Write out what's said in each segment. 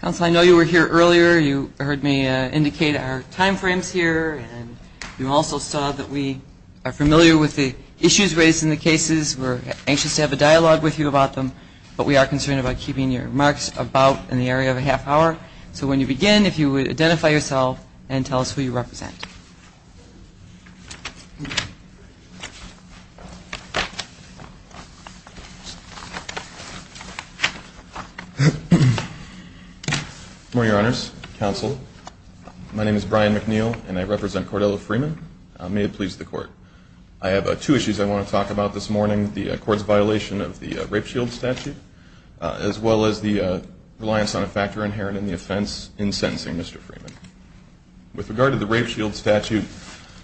Council, I know you were here earlier. You heard me indicate our time frames here. And you also saw that we are familiar with the issues raised in the cases. We're anxious to have a dialogue with you about them. But we are concerned about keeping your remarks about in the area of a half hour. So when you begin, if you would identify yourself and tell us who you represent. Good morning, Your Honors, Counsel. My name is Brian McNeil, and I represent Cordello Freeman. May it please the Court. I have two issues I want to talk about this morning, the Court's violation of the rape shield statute, as well as the reliance on a factor inherent in the offense in sentencing Mr. Freeman. With regard to the rape shield statute,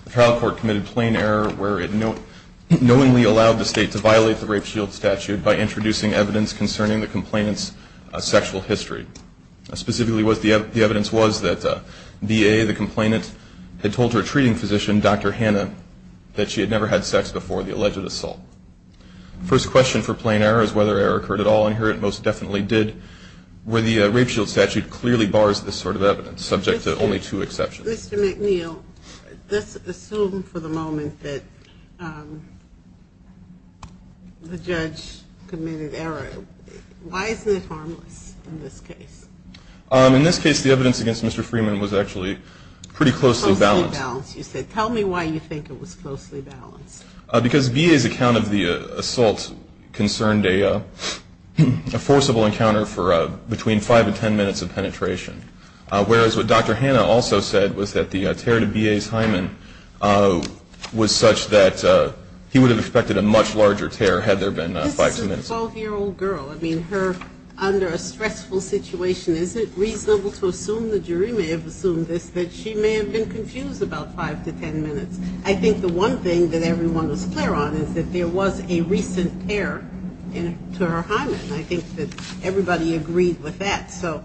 the trial court committed plain error where it knowingly allowed the state to violate the rape shield statute by introducing evidence concerning the complainant's sexual history. Specifically, the evidence was that VA, the complainant, had told her treating physician, Dr. Hannah, that she had never had sex before the alleged assault. First question for plain error is whether error occurred at all. And here it most definitely did, where the rape shield statute clearly bars this sort of evidence, subject to only two exceptions. Mr. McNeil, let's assume for the moment that the judge committed error. Why isn't it harmless in this case? In this case, the evidence against Mr. Freeman was actually pretty closely balanced. Closely balanced. You said, tell me why you think it was closely balanced. Because VA's account of the assault concerned a forcible encounter for between five and ten minutes of penetration. Whereas what Dr. Hannah also said was that the tear to VA's hymen was such that he would have expected a much larger tear had there been five to ten minutes. This is a 12-year-old girl. I mean, her under a stressful situation, is it reasonable to assume the jury may have assumed this, that she may have been confused about five to ten minutes? I think the one thing that everyone was clear on is that there was a recent tear to her hymen. I think that everybody agreed with that. So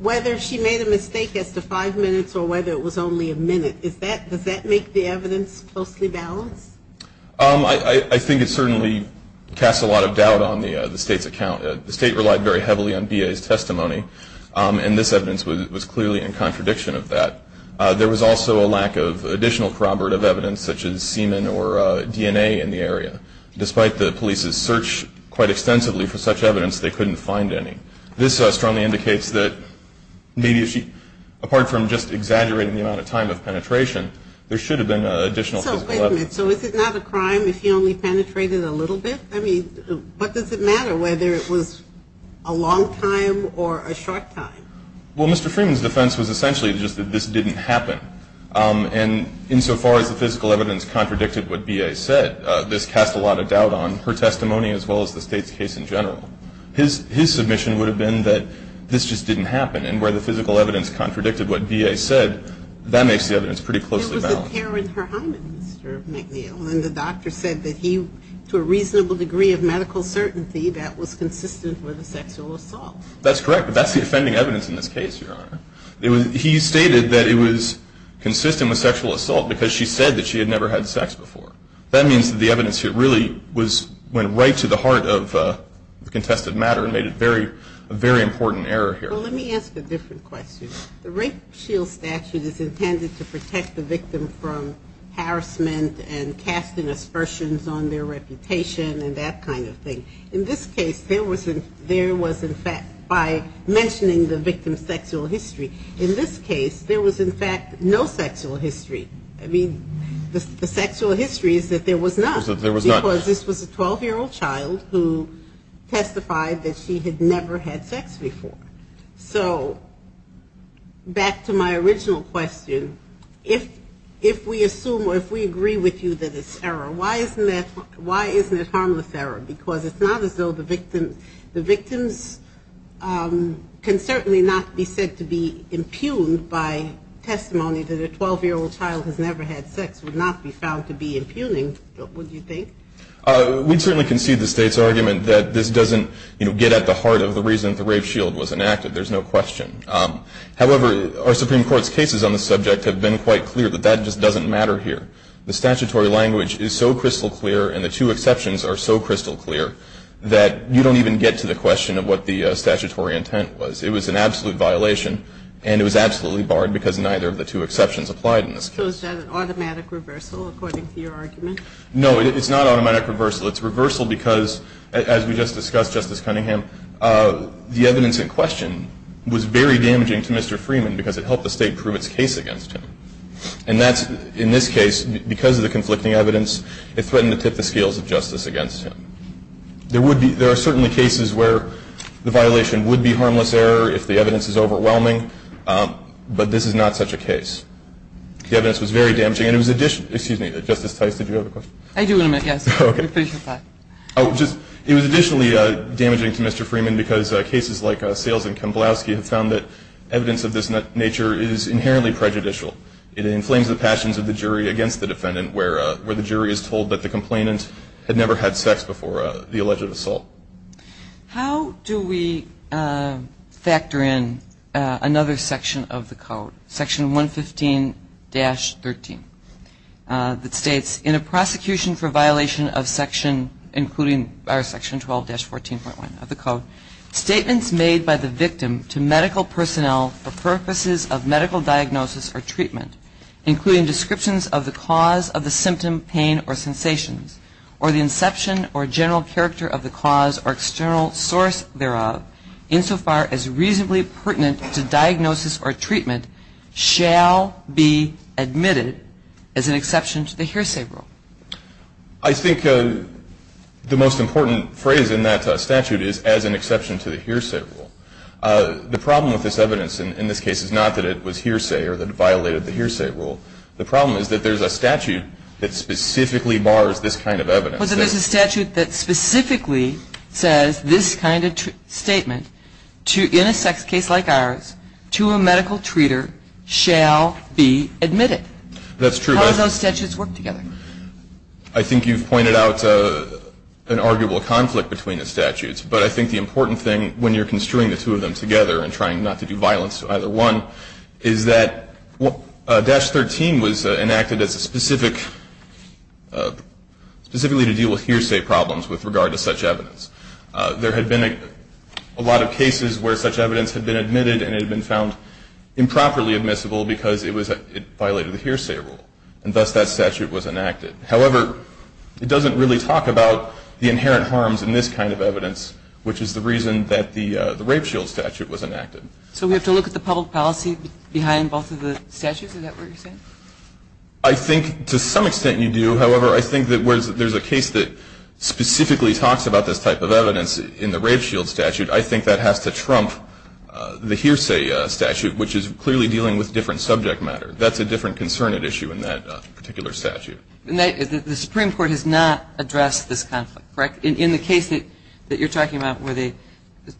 whether she made a mistake as to five minutes or whether it was only a minute, does that make the evidence closely balanced? I think it certainly casts a lot of doubt on the State's account. The State relied very heavily on VA's testimony. And this evidence was clearly in contradiction of that. There was also a lack of additional corroborative evidence, such as semen or DNA in the area. Despite the police's search quite extensively for such evidence, they couldn't find any. This strongly indicates that maybe she, apart from just exaggerating the amount of time of penetration, there should have been additional physical evidence. So wait a minute. So is it not a crime if he only penetrated a little bit? I mean, what does it matter whether it was a long time or a short time? Well, Mr. Freeman's defense was essentially just that this didn't happen. And insofar as the physical evidence contradicted what VA said, that this cast a lot of doubt on her testimony as well as the State's case in general. His submission would have been that this just didn't happen. And where the physical evidence contradicted what VA said, that makes the evidence pretty closely balanced. It was the care with her hymen, Mr. McNeil. And the doctor said that he, to a reasonable degree of medical certainty, that was consistent with a sexual assault. That's correct. But that's the offending evidence in this case, Your Honor. He stated that it was consistent with sexual assault because she said that she had never had sex before. That means that the evidence here really went right to the heart of the contested matter and made it a very important error here. Well, let me ask a different question. The rape shield statute is intended to protect the victim from harassment and casting aspersions on their reputation and that kind of thing. In this case, there was, in fact, by mentioning the victim's sexual history. In this case, there was, in fact, no sexual history. I mean, the sexual history is that there was none. There was none. Because this was a 12-year-old child who testified that she had never had sex before. So back to my original question, if we assume or if we agree with you that it's error, why isn't it harmless error? Because it's not as though the victims can certainly not be said to be impugned by testimony that a 12-year-old child has never had sex would not be found to be impugning, would you think? We'd certainly concede the State's argument that this doesn't get at the heart of the reason the rape shield was enacted. There's no question. However, our Supreme Court's cases on the subject have been quite clear that that just doesn't matter here. The statutory language is so crystal clear and the two exceptions are so crystal clear that you don't even get to the question of what the statutory intent was. It was an absolute violation and it was absolutely barred because neither of the two exceptions applied in this case. So is that an automatic reversal according to your argument? No, it's not automatic reversal. It's reversal because, as we just discussed, Justice Cunningham, the evidence in question was very damaging to Mr. Freeman because it helped the State prove its case against him. And that's, in this case, because of the conflicting evidence, it threatened to tip the scales of justice against him. There are certainly cases where the violation would be harmless error if the evidence is overwhelming, but this is not such a case. The evidence was very damaging. And it was additionally, excuse me, Justice Tice, did you have a question? I do in a minute, yes. Okay. Oh, just, it was additionally damaging to Mr. Freeman because cases like Sales and Kamblowski have found that evidence of this nature is inherently prejudicial. It inflames the passions of the jury against the defendant where the jury is told that the complainant had never had sex before. She's a victim of sexual assault. She's a victim of sexual assault. How do we factor in another section of the code, section 115-13, that states, in a prosecution for violation of section, including section 12-14.1 of the code, statements made by the victim to medical personnel for purposes of medical diagnosis or treatment, including descriptions of the cause of the symptom, pain, or sensations, or the inception or general character of the cause or external source thereof, insofar as reasonably pertinent to diagnosis or treatment, shall be admitted as an exception to the hearsay rule? I think the most important phrase in that statute is, as an exception to the hearsay rule. The problem with this evidence in this case is not that it was hearsay or that it violated the hearsay rule. The problem is that there's a statute that specifically bars this kind of evidence. But there's a statute that specifically says this kind of statement, in a sex case like ours, to a medical treater shall be admitted. That's true. How do those statutes work together? But I think the important thing, when you're construing the two of them together and trying not to do violence to either one, is that dash 13 was enacted specifically to deal with hearsay problems with regard to such evidence. There had been a lot of cases where such evidence had been admitted and it had been found improperly admissible because it violated the hearsay rule, and thus that statute was enacted. However, it doesn't really talk about the inherent harms in this kind of evidence, which is the reason that the rape shield statute was enacted. So we have to look at the public policy behind both of the statutes? Is that what you're saying? I think to some extent you do. However, I think that whereas there's a case that specifically talks about this type of evidence in the rape shield statute, I think that has to trump the hearsay statute, which is clearly dealing with different subject matter. That's a different concern at issue in that particular statute. The Supreme Court has not addressed this conflict, correct? In the case that you're talking about where they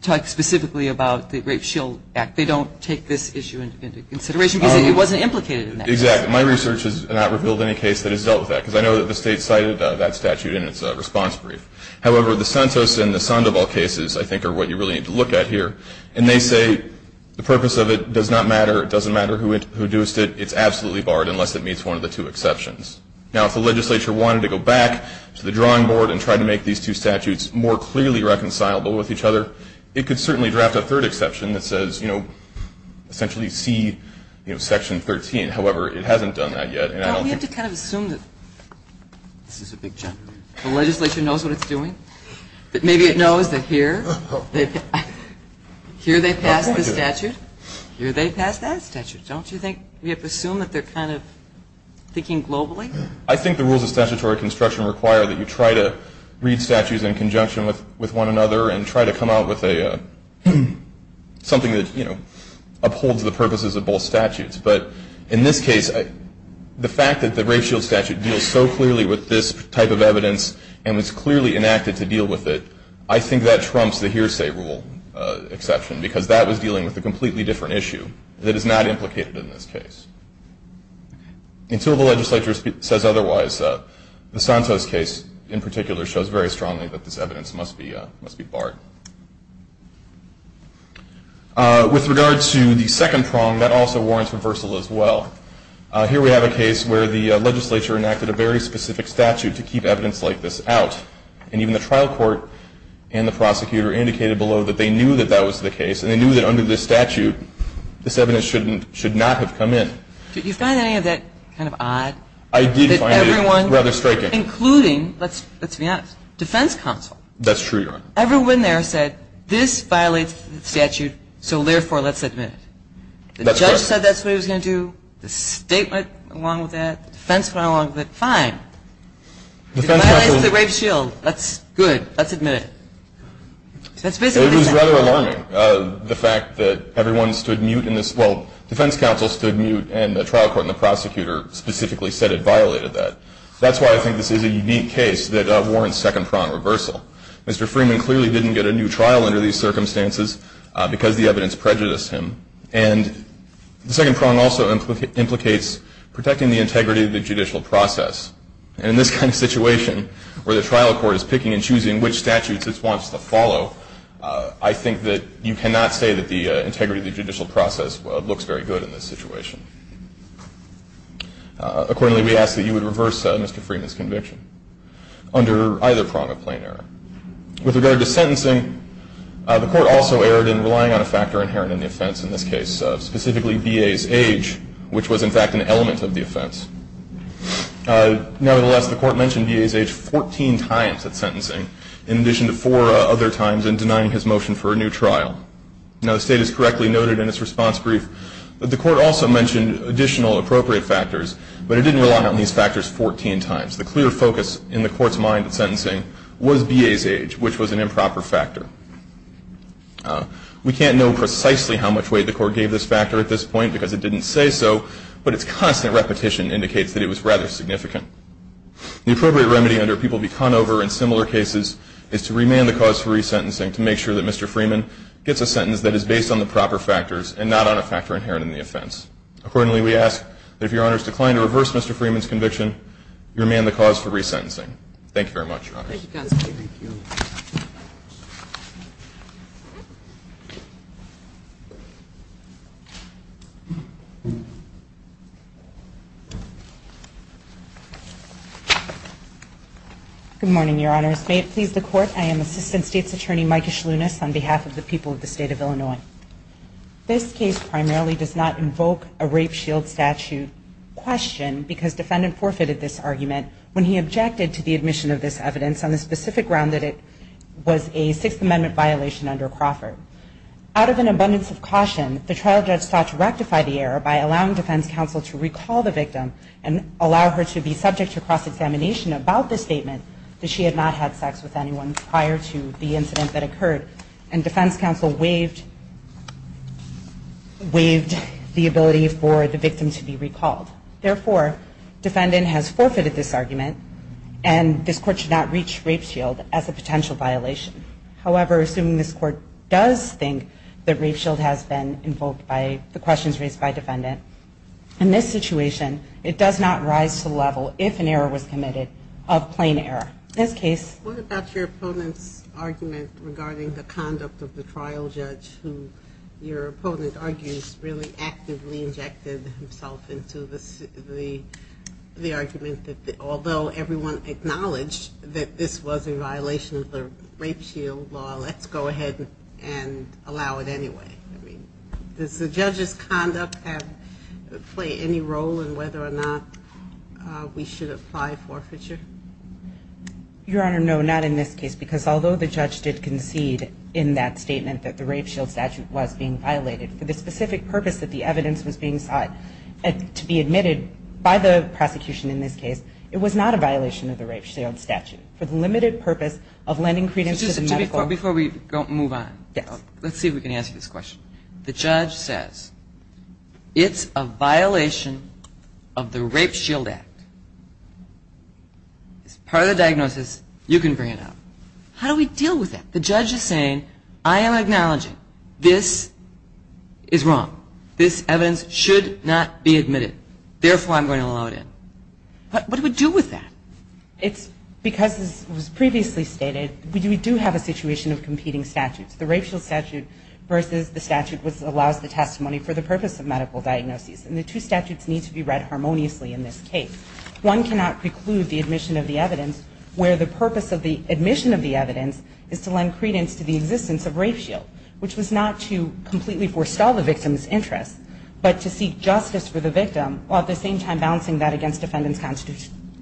talk specifically about the rape shield act, they don't take this issue into consideration because it wasn't implicated in that case? Exactly. My research has not revealed any case that has dealt with that because I know that the State cited that statute in its response brief. However, the Santos and the Sandoval cases I think are what you really need to look at here, and they say the purpose of it does not matter, it doesn't matter who introduced it, it's absolutely barred unless it meets one of the two exceptions. Now, if the legislature wanted to go back to the drawing board and try to make these two statutes more clearly reconcilable with each other, it could certainly draft a third exception that says, you know, essentially see Section 13. However, it hasn't done that yet. Don't we have to kind of assume that the legislature knows what it's doing? That maybe it knows that here they passed this statute, here they passed that statute. Don't you think we have to assume that they're kind of thinking globally? I think the rules of statutory construction require that you try to read statutes in conjunction with one another and try to come out with something that, you know, upholds the purposes of both statutes. But in this case, the fact that the race shield statute deals so clearly with this type of evidence and was clearly enacted to deal with it, I think that trumps the hearsay rule exception because that was dealing with a completely different issue that is not implicated in this case. Until the legislature says otherwise, the Santos case in particular shows very strongly that this evidence must be barred. With regard to the second prong, that also warrants reversal as well. Here we have a case where the legislature enacted a very specific statute to keep evidence like this out, and even the trial court and the prosecutor indicated below that they knew that that was the case and they knew that under this statute this evidence should not have come in. Did you find any of that kind of odd? I did find it rather striking. Including, let's be honest, defense counsel. That's true, Your Honor. Everyone there said this violates the statute, so therefore let's admit it. The judge said that's what he was going to do. The state went along with that. The defense went along with it. Fine. It violates the rape shield. That's good. Let's admit it. It was rather alarming, the fact that everyone stood mute in this. Well, defense counsel stood mute and the trial court and the prosecutor specifically said it violated that. That's why I think this is a unique case that warrants second prong reversal. Mr. Freeman clearly didn't get a new trial under these circumstances because the evidence prejudiced him, and the second prong also implicates protecting the integrity of the judicial process. And in this kind of situation where the trial court is picking and choosing which statutes it wants to follow, I think that you cannot say that the integrity of the judicial process looks very good in this situation. Accordingly, we ask that you would reverse Mr. Freeman's conviction under either prong of plain error. With regard to sentencing, the court also erred in relying on a factor inherent in the offense in this case, specifically B.A.'s age, which was in fact an element of the offense. Nevertheless, the court mentioned B.A.'s age 14 times at sentencing, in addition to four other times in denying his motion for a new trial. Now, the state has correctly noted in its response brief that the court also mentioned additional appropriate factors, but it didn't rely on these factors 14 times. The clear focus in the court's mind at sentencing was B.A.'s age, which was an improper factor. We can't know precisely how much weight the court gave this factor at this point because it didn't say so, but its constant repetition indicates that it was rather significant. The appropriate remedy under which people be conned over in similar cases is to remand the cause for resentencing to make sure that Mr. Freeman gets a sentence that is based on the proper factors and not on a factor inherent in the offense. Accordingly, we ask that if Your Honors decline to reverse Mr. Freeman's conviction, you remand the cause for resentencing. Thank you, Counsel. Thank you. Thank you. Good morning, Your Honors. May it please the Court, I am Assistant State's Attorney Micah Schluness on behalf of the people of the State of Illinois. This case primarily does not invoke a rape shield statute question because defendant forfeited this argument when he objected to the admission of this evidence on the specific ground that it was a Sixth Amendment violation under Crawford. Out of an abundance of caution, the trial judge sought to rectify the error by allowing defense counsel to recall the victim and allow her to be subject to cross-examination about the statement that she had not had sex with anyone prior to the incident that occurred and defense counsel waived the ability for the victim to be recalled. Therefore, defendant has forfeited this argument, and this Court should not reach rape shield as a potential violation. However, assuming this Court does think that rape shield has been invoked by the questions raised by defendant, in this situation, it does not rise to the level, if an error was committed, of plain error. What about your opponent's argument regarding the conduct of the trial judge who, your opponent argues, really actively injected himself into the argument that although everyone acknowledged that this was a violation of the rape shield law, let's go ahead and allow it anyway. Does the judge's conduct play any role in whether or not we should apply forfeiture? Your Honor, no, not in this case, because although the judge did concede in that statement that the rape shield statute was being violated for the specific purpose that the evidence was being sought to be admitted by the prosecution in this case, it was not a violation of the rape shield statute. For the limited purpose of lending credence to the medical... Before we move on, let's see if we can answer this question. The judge says it's a violation of the Rape Shield Act. It's part of the diagnosis. You can bring it up. How do we deal with that? The judge is saying, I am acknowledging this is wrong. This evidence should not be admitted. Therefore, I'm going to allow it in. What do we do with that? It's because, as was previously stated, we do have a situation of competing statutes. The rape shield statute versus the statute which allows the testimony for the purpose of medical diagnosis. And the two statutes need to be read harmoniously in this case. One cannot preclude the admission of the evidence where the purpose of the admission of the evidence is to lend credence to the existence of rape shield, which was not to completely forestall the victim's interest, but to seek justice for the victim while at the same time balancing that against defendant's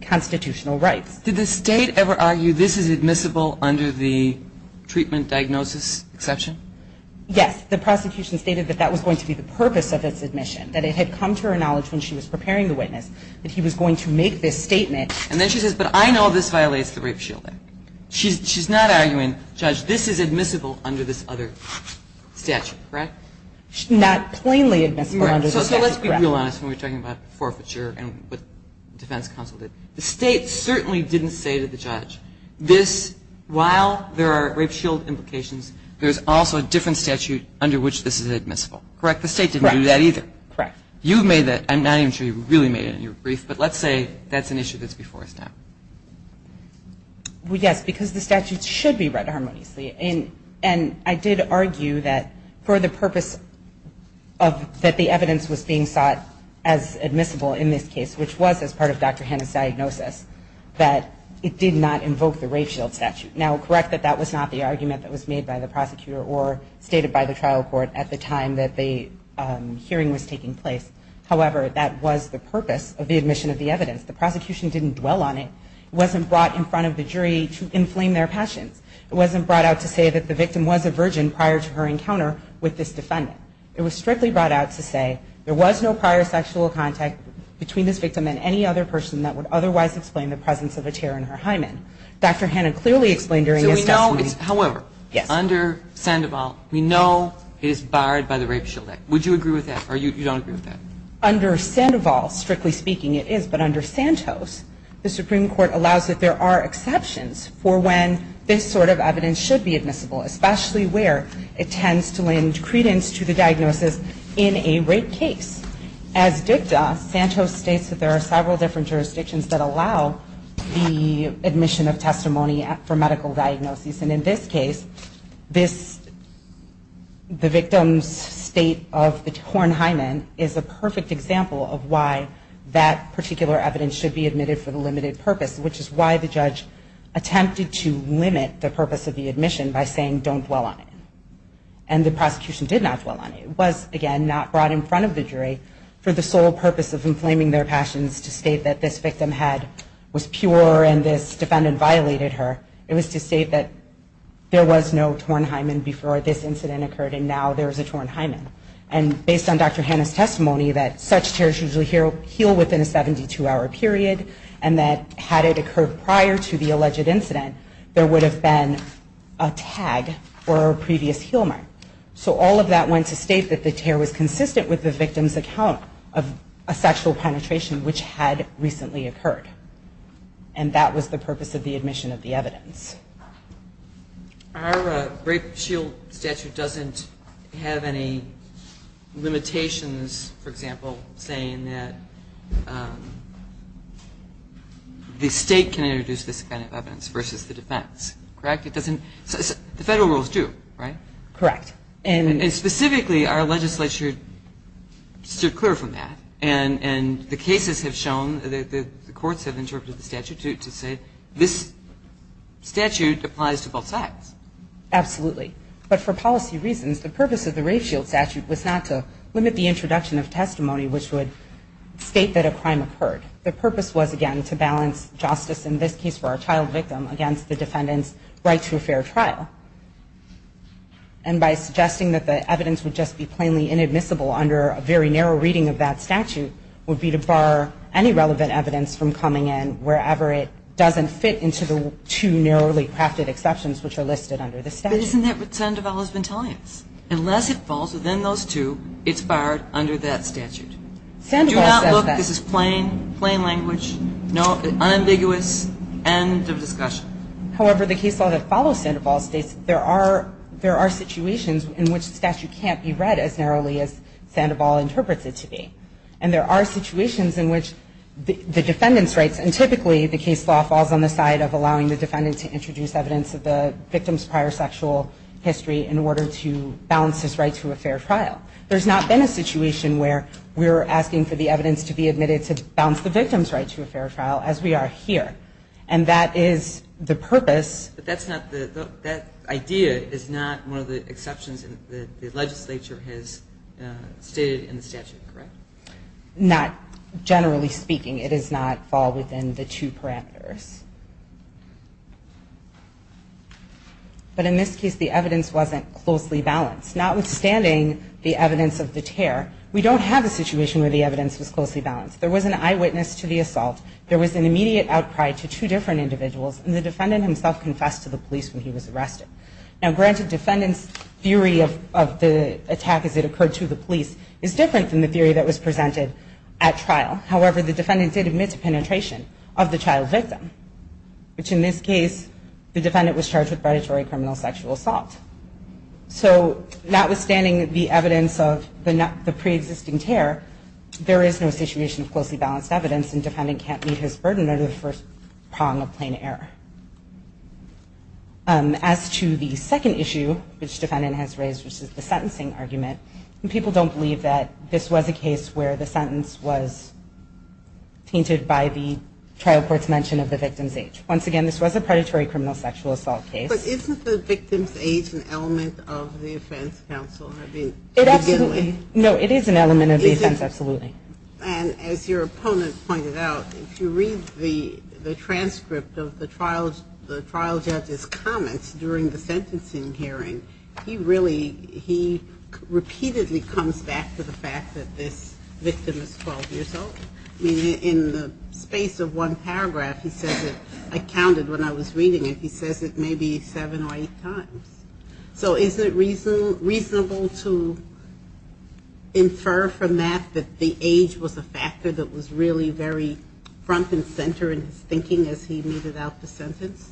constitutional rights. Did the state ever argue this is admissible under the treatment diagnosis exception? Yes. The prosecution stated that that was going to be the purpose of its admission, that it had come to her knowledge when she was preparing the witness that he was going to make this statement. And then she says, but I know this violates the Rape Shield Act. She's not arguing, Judge, this is admissible under this other statute, correct? She's not plainly admissible under this statute, correct. So let's be real honest when we're talking about forfeiture and what the defense counsel did. The state certainly didn't say to the judge, this, while there are rape shield implications, there's also a different statute under which this is admissible, correct? The state didn't do that either. Correct. You made that. I'm not even sure you really made it in your brief, but let's say that's an issue that's before us now. Well, yes, because the statute should be read harmoniously. And I did argue that for the purpose that the evidence was being sought as admissible in this case, which was as part of Dr. Hanna's diagnosis, that it did not invoke the rape shield statute. Now, correct that that was not the argument that was made by the prosecutor or stated by the trial court at the time that the hearing was taking place. However, that was the purpose of the admission of the evidence. The prosecution didn't dwell on it. It wasn't brought in front of the jury to inflame their passions. It wasn't brought out to say that the victim was a virgin prior to her encounter with this defendant. It was strictly brought out to say there was no prior sexual contact between this victim and any other person that would otherwise explain the presence of a tear in her hymen. Dr. Hanna clearly explained during his testimony. However, under Sandoval, we know it is barred by the Rape Shield Act. Would you agree with that? Or you don't agree with that? Under Sandoval, strictly speaking, it is. But under Santos, the Supreme Court allows that there are exceptions for when this sort of evidence should be admissible, especially where it tends to lend credence to the diagnosis in a rape case. As dicta, Santos states that there are several different jurisdictions that allow the admission of testimony for medical diagnosis. And in this case, the victim's state of the torn hymen is a perfect example of why that particular evidence should be admitted for the limited purpose, which is why the judge attempted to limit the purpose of the admission by saying don't dwell on it. And the prosecution did not dwell on it. It was, again, not brought in front of the jury for the sole purpose of inflaming their passions to state that this victim was pure and this defendant violated her. It was to state that there was no torn hymen before this incident occurred and now there is a torn hymen. And based on Dr. Hanna's testimony that such tears usually heal within a 72-hour period and that had it occurred prior to the alleged incident, there would have been a tag or a previous heal mark. So all of that went to state that the tear was consistent with the victim's account of a sexual penetration which had recently occurred. And that was the purpose of the admission of the evidence. Our rape shield statute doesn't have any limitations, for example, saying that the state can introduce this kind of evidence versus the defense. Correct? The federal rules do, right? Correct. And specifically, our legislature stood clear from that. And the cases have shown that the courts have interpreted the statute to say this statute applies to both sides. Absolutely. But for policy reasons, the purpose of the rape shield statute was not to limit the introduction of testimony which would state that a crime occurred. The purpose was, again, to balance justice in this case for a child victim against the defendant's right to a fair trial. And by suggesting that the evidence would just be plainly inadmissible under a very narrow reading of that statute would be to bar any relevant evidence from coming in wherever it doesn't fit into the two narrowly crafted exceptions which are listed under the statute. But isn't that what Sandoval has been telling us? Unless it falls within those two, it's barred under that statute. Do not look, this is plain language, unambiguous, end of discussion. However, the case law that follows Sandoval states there are situations in which the statute can't be read as narrowly as Sandoval interprets it to be. And there are situations in which the defendant's rights, and typically the case law falls on the side of allowing the defendant to introduce evidence of the victim's prior sexual history in order to balance his right to a fair trial. There's not been a situation where we're asking for the evidence to be admitted to balance the victim's right to a fair trial as we are here. And that is the purpose. But that's not the, that idea is not one of the exceptions that the legislature has stated in the statute, correct? Not generally speaking. It does not fall within the two parameters. But in this case, the evidence wasn't closely balanced. Notwithstanding the evidence of the tear, we don't have a situation where the evidence was closely balanced. There was an eyewitness to the assault. There was an immediate outcry to two different individuals. And the defendant himself confessed to the police when he was arrested. Now granted, defendant's theory of the attack as it occurred to the police is different than the theory that was presented at trial. However, the defendant did admit to penetration of the trial victim. Which in this case, the defendant was charged with predatory criminal sexual assault. So notwithstanding the evidence of the pre-existing tear, there is no situation of closely balanced evidence, and defendant can't meet his burden under the first prong of plain error. As to the second issue, which defendant has raised, which is the sentencing argument, people don't believe that this was a case where the sentence was tainted by the trial court's mention of the victim's age. Once again, this was a predatory criminal sexual assault case. But isn't the victim's age an element of the offense, counsel? No, it is an element of the offense, absolutely. And as your opponent pointed out, if you read the transcript of the trial judge's comments during the sentencing hearing, he really, he repeatedly comes back to the fact that this victim is 12 years old. In the space of one paragraph, he says it, I counted when I was reading it, he says it maybe seven or eight times. So is it reasonable to infer from that that the age was a factor that was really very front and center in his thinking as he made out the sentence?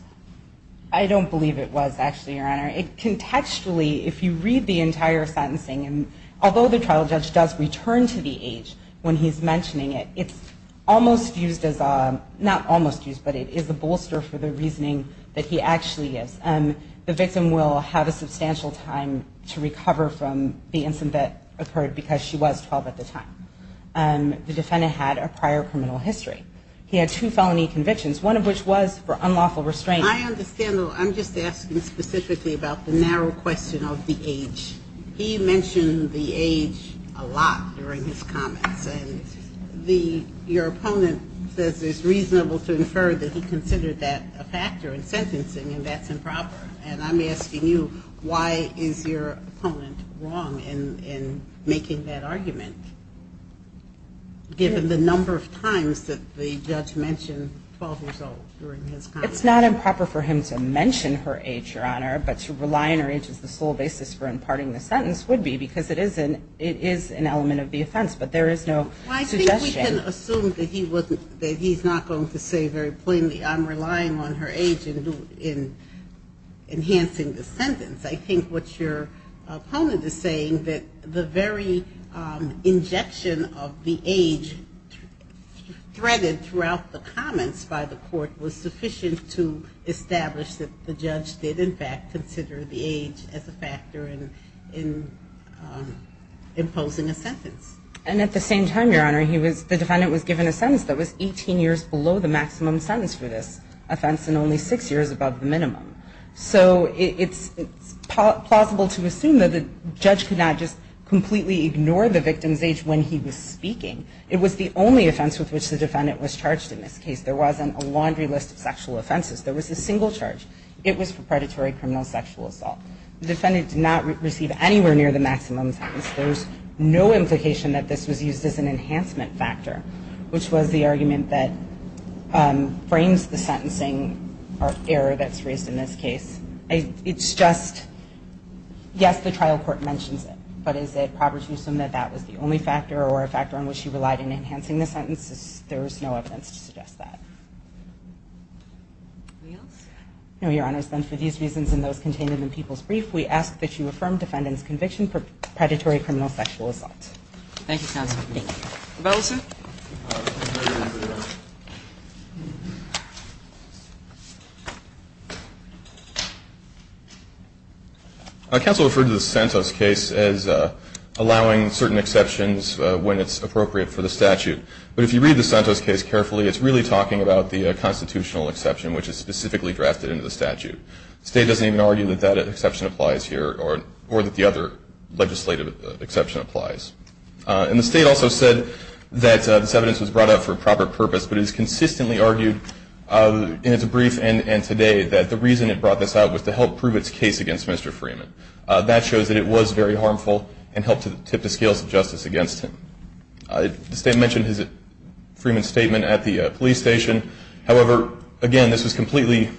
I don't believe it was, actually, Your Honor. Contextually, if you read the entire sentencing, and although the trial judge does return to the age when he's mentioning it, it's almost used as a, not almost used, but it is a bolster for the reasoning that he actually is. The victim will have a substantial time to recover from the incident that occurred because she was 12 at the time. The defendant had a prior criminal history. He had two felony convictions, one of which was for unlawful restraint. I understand, though. I'm just asking specifically about the narrow question of the age. He mentioned the age a lot during his comments, and your opponent says it's reasonable to infer that he considered that a factor in sentencing, and that's improper. And I'm asking you, why is your opponent wrong in making that argument, given the number of times that the judge mentioned 12 years old during his comments? It's not improper for him to mention her age, Your Honor, but to rely on her age as the sole basis for imparting the sentence would be because it is an element of the offense, but there is no suggestion. Well, I think we can assume that he's not going to say very plainly, I'm relying on her age in enhancing the sentence. I think what your opponent is saying, that the very injection of the age threaded throughout the comments by the court was sufficient to establish that the judge did, in fact, consider the age as a factor in imposing a sentence. And at the same time, Your Honor, the defendant was given a sentence that was 18 years below the maximum sentence for this offense and only six years above the minimum. So it's plausible to assume that the judge could not just completely ignore the victim's age when he was speaking. It was the only offense with which the defendant was charged in this case. There wasn't a laundry list of sexual offenses. There was a single charge. It was for predatory criminal sexual assault. The defendant did not receive anywhere near the maximum sentence. There's no implication that this was used as an enhancement factor, which was the argument that frames the sentencing error that's raised in this case. It's just, yes, the trial court mentions it, but is it proper to assume that that was the only factor or a factor on which he relied in enhancing the sentence? There is no evidence to suggest that. Anything else? No, Your Honors. Then for these reasons and those contained in the people's brief, we ask that you affirm defendant's conviction for predatory criminal sexual assault. Thank you, Counsel. Thank you. Bellison. Counsel referred to the Santos case as allowing certain exceptions when it's appropriate for the statute. But if you read the Santos case carefully, it's really talking about the constitutional exception, which is specifically drafted into the statute. The state doesn't even argue that that exception applies here or that the other legislative exception applies. And the state also said that this evidence was brought up for a proper purpose, but it is consistently argued in its brief and today that the reason it brought this out was to help prove its case against Mr. Freeman. That shows that it was very harmful and helped tip the scales of justice against him. The state mentioned Freeman's statement at the police station. However, again, this was completely,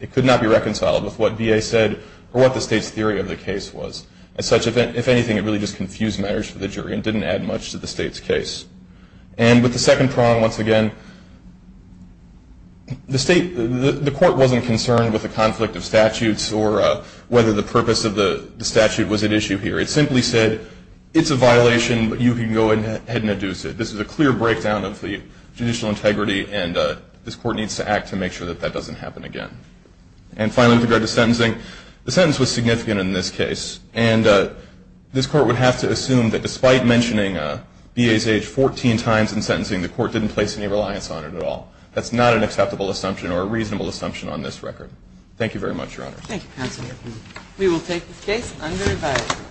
it could not be reconciled with what VA said or what the state's theory of the case was. As such, if anything, it really just confused matters for the jury and didn't add much to the state's case. And with the second prong, once again, the court wasn't concerned with the conflict of statutes or whether the purpose of the statute was at issue here. It simply said, it's a violation, but you can go ahead and adduce it. This is a clear breakdown of the judicial integrity, and this court needs to act to make sure that that doesn't happen again. And finally, with regard to sentencing, the sentence was significant in this case. And this court would have to assume that despite mentioning VA's age 14 times in sentencing, the court didn't place any reliance on it at all. That's not an acceptable assumption or a reasonable assumption on this record. Thank you very much, Your Honor. Thank you, Counselor. We will take this case under advisory.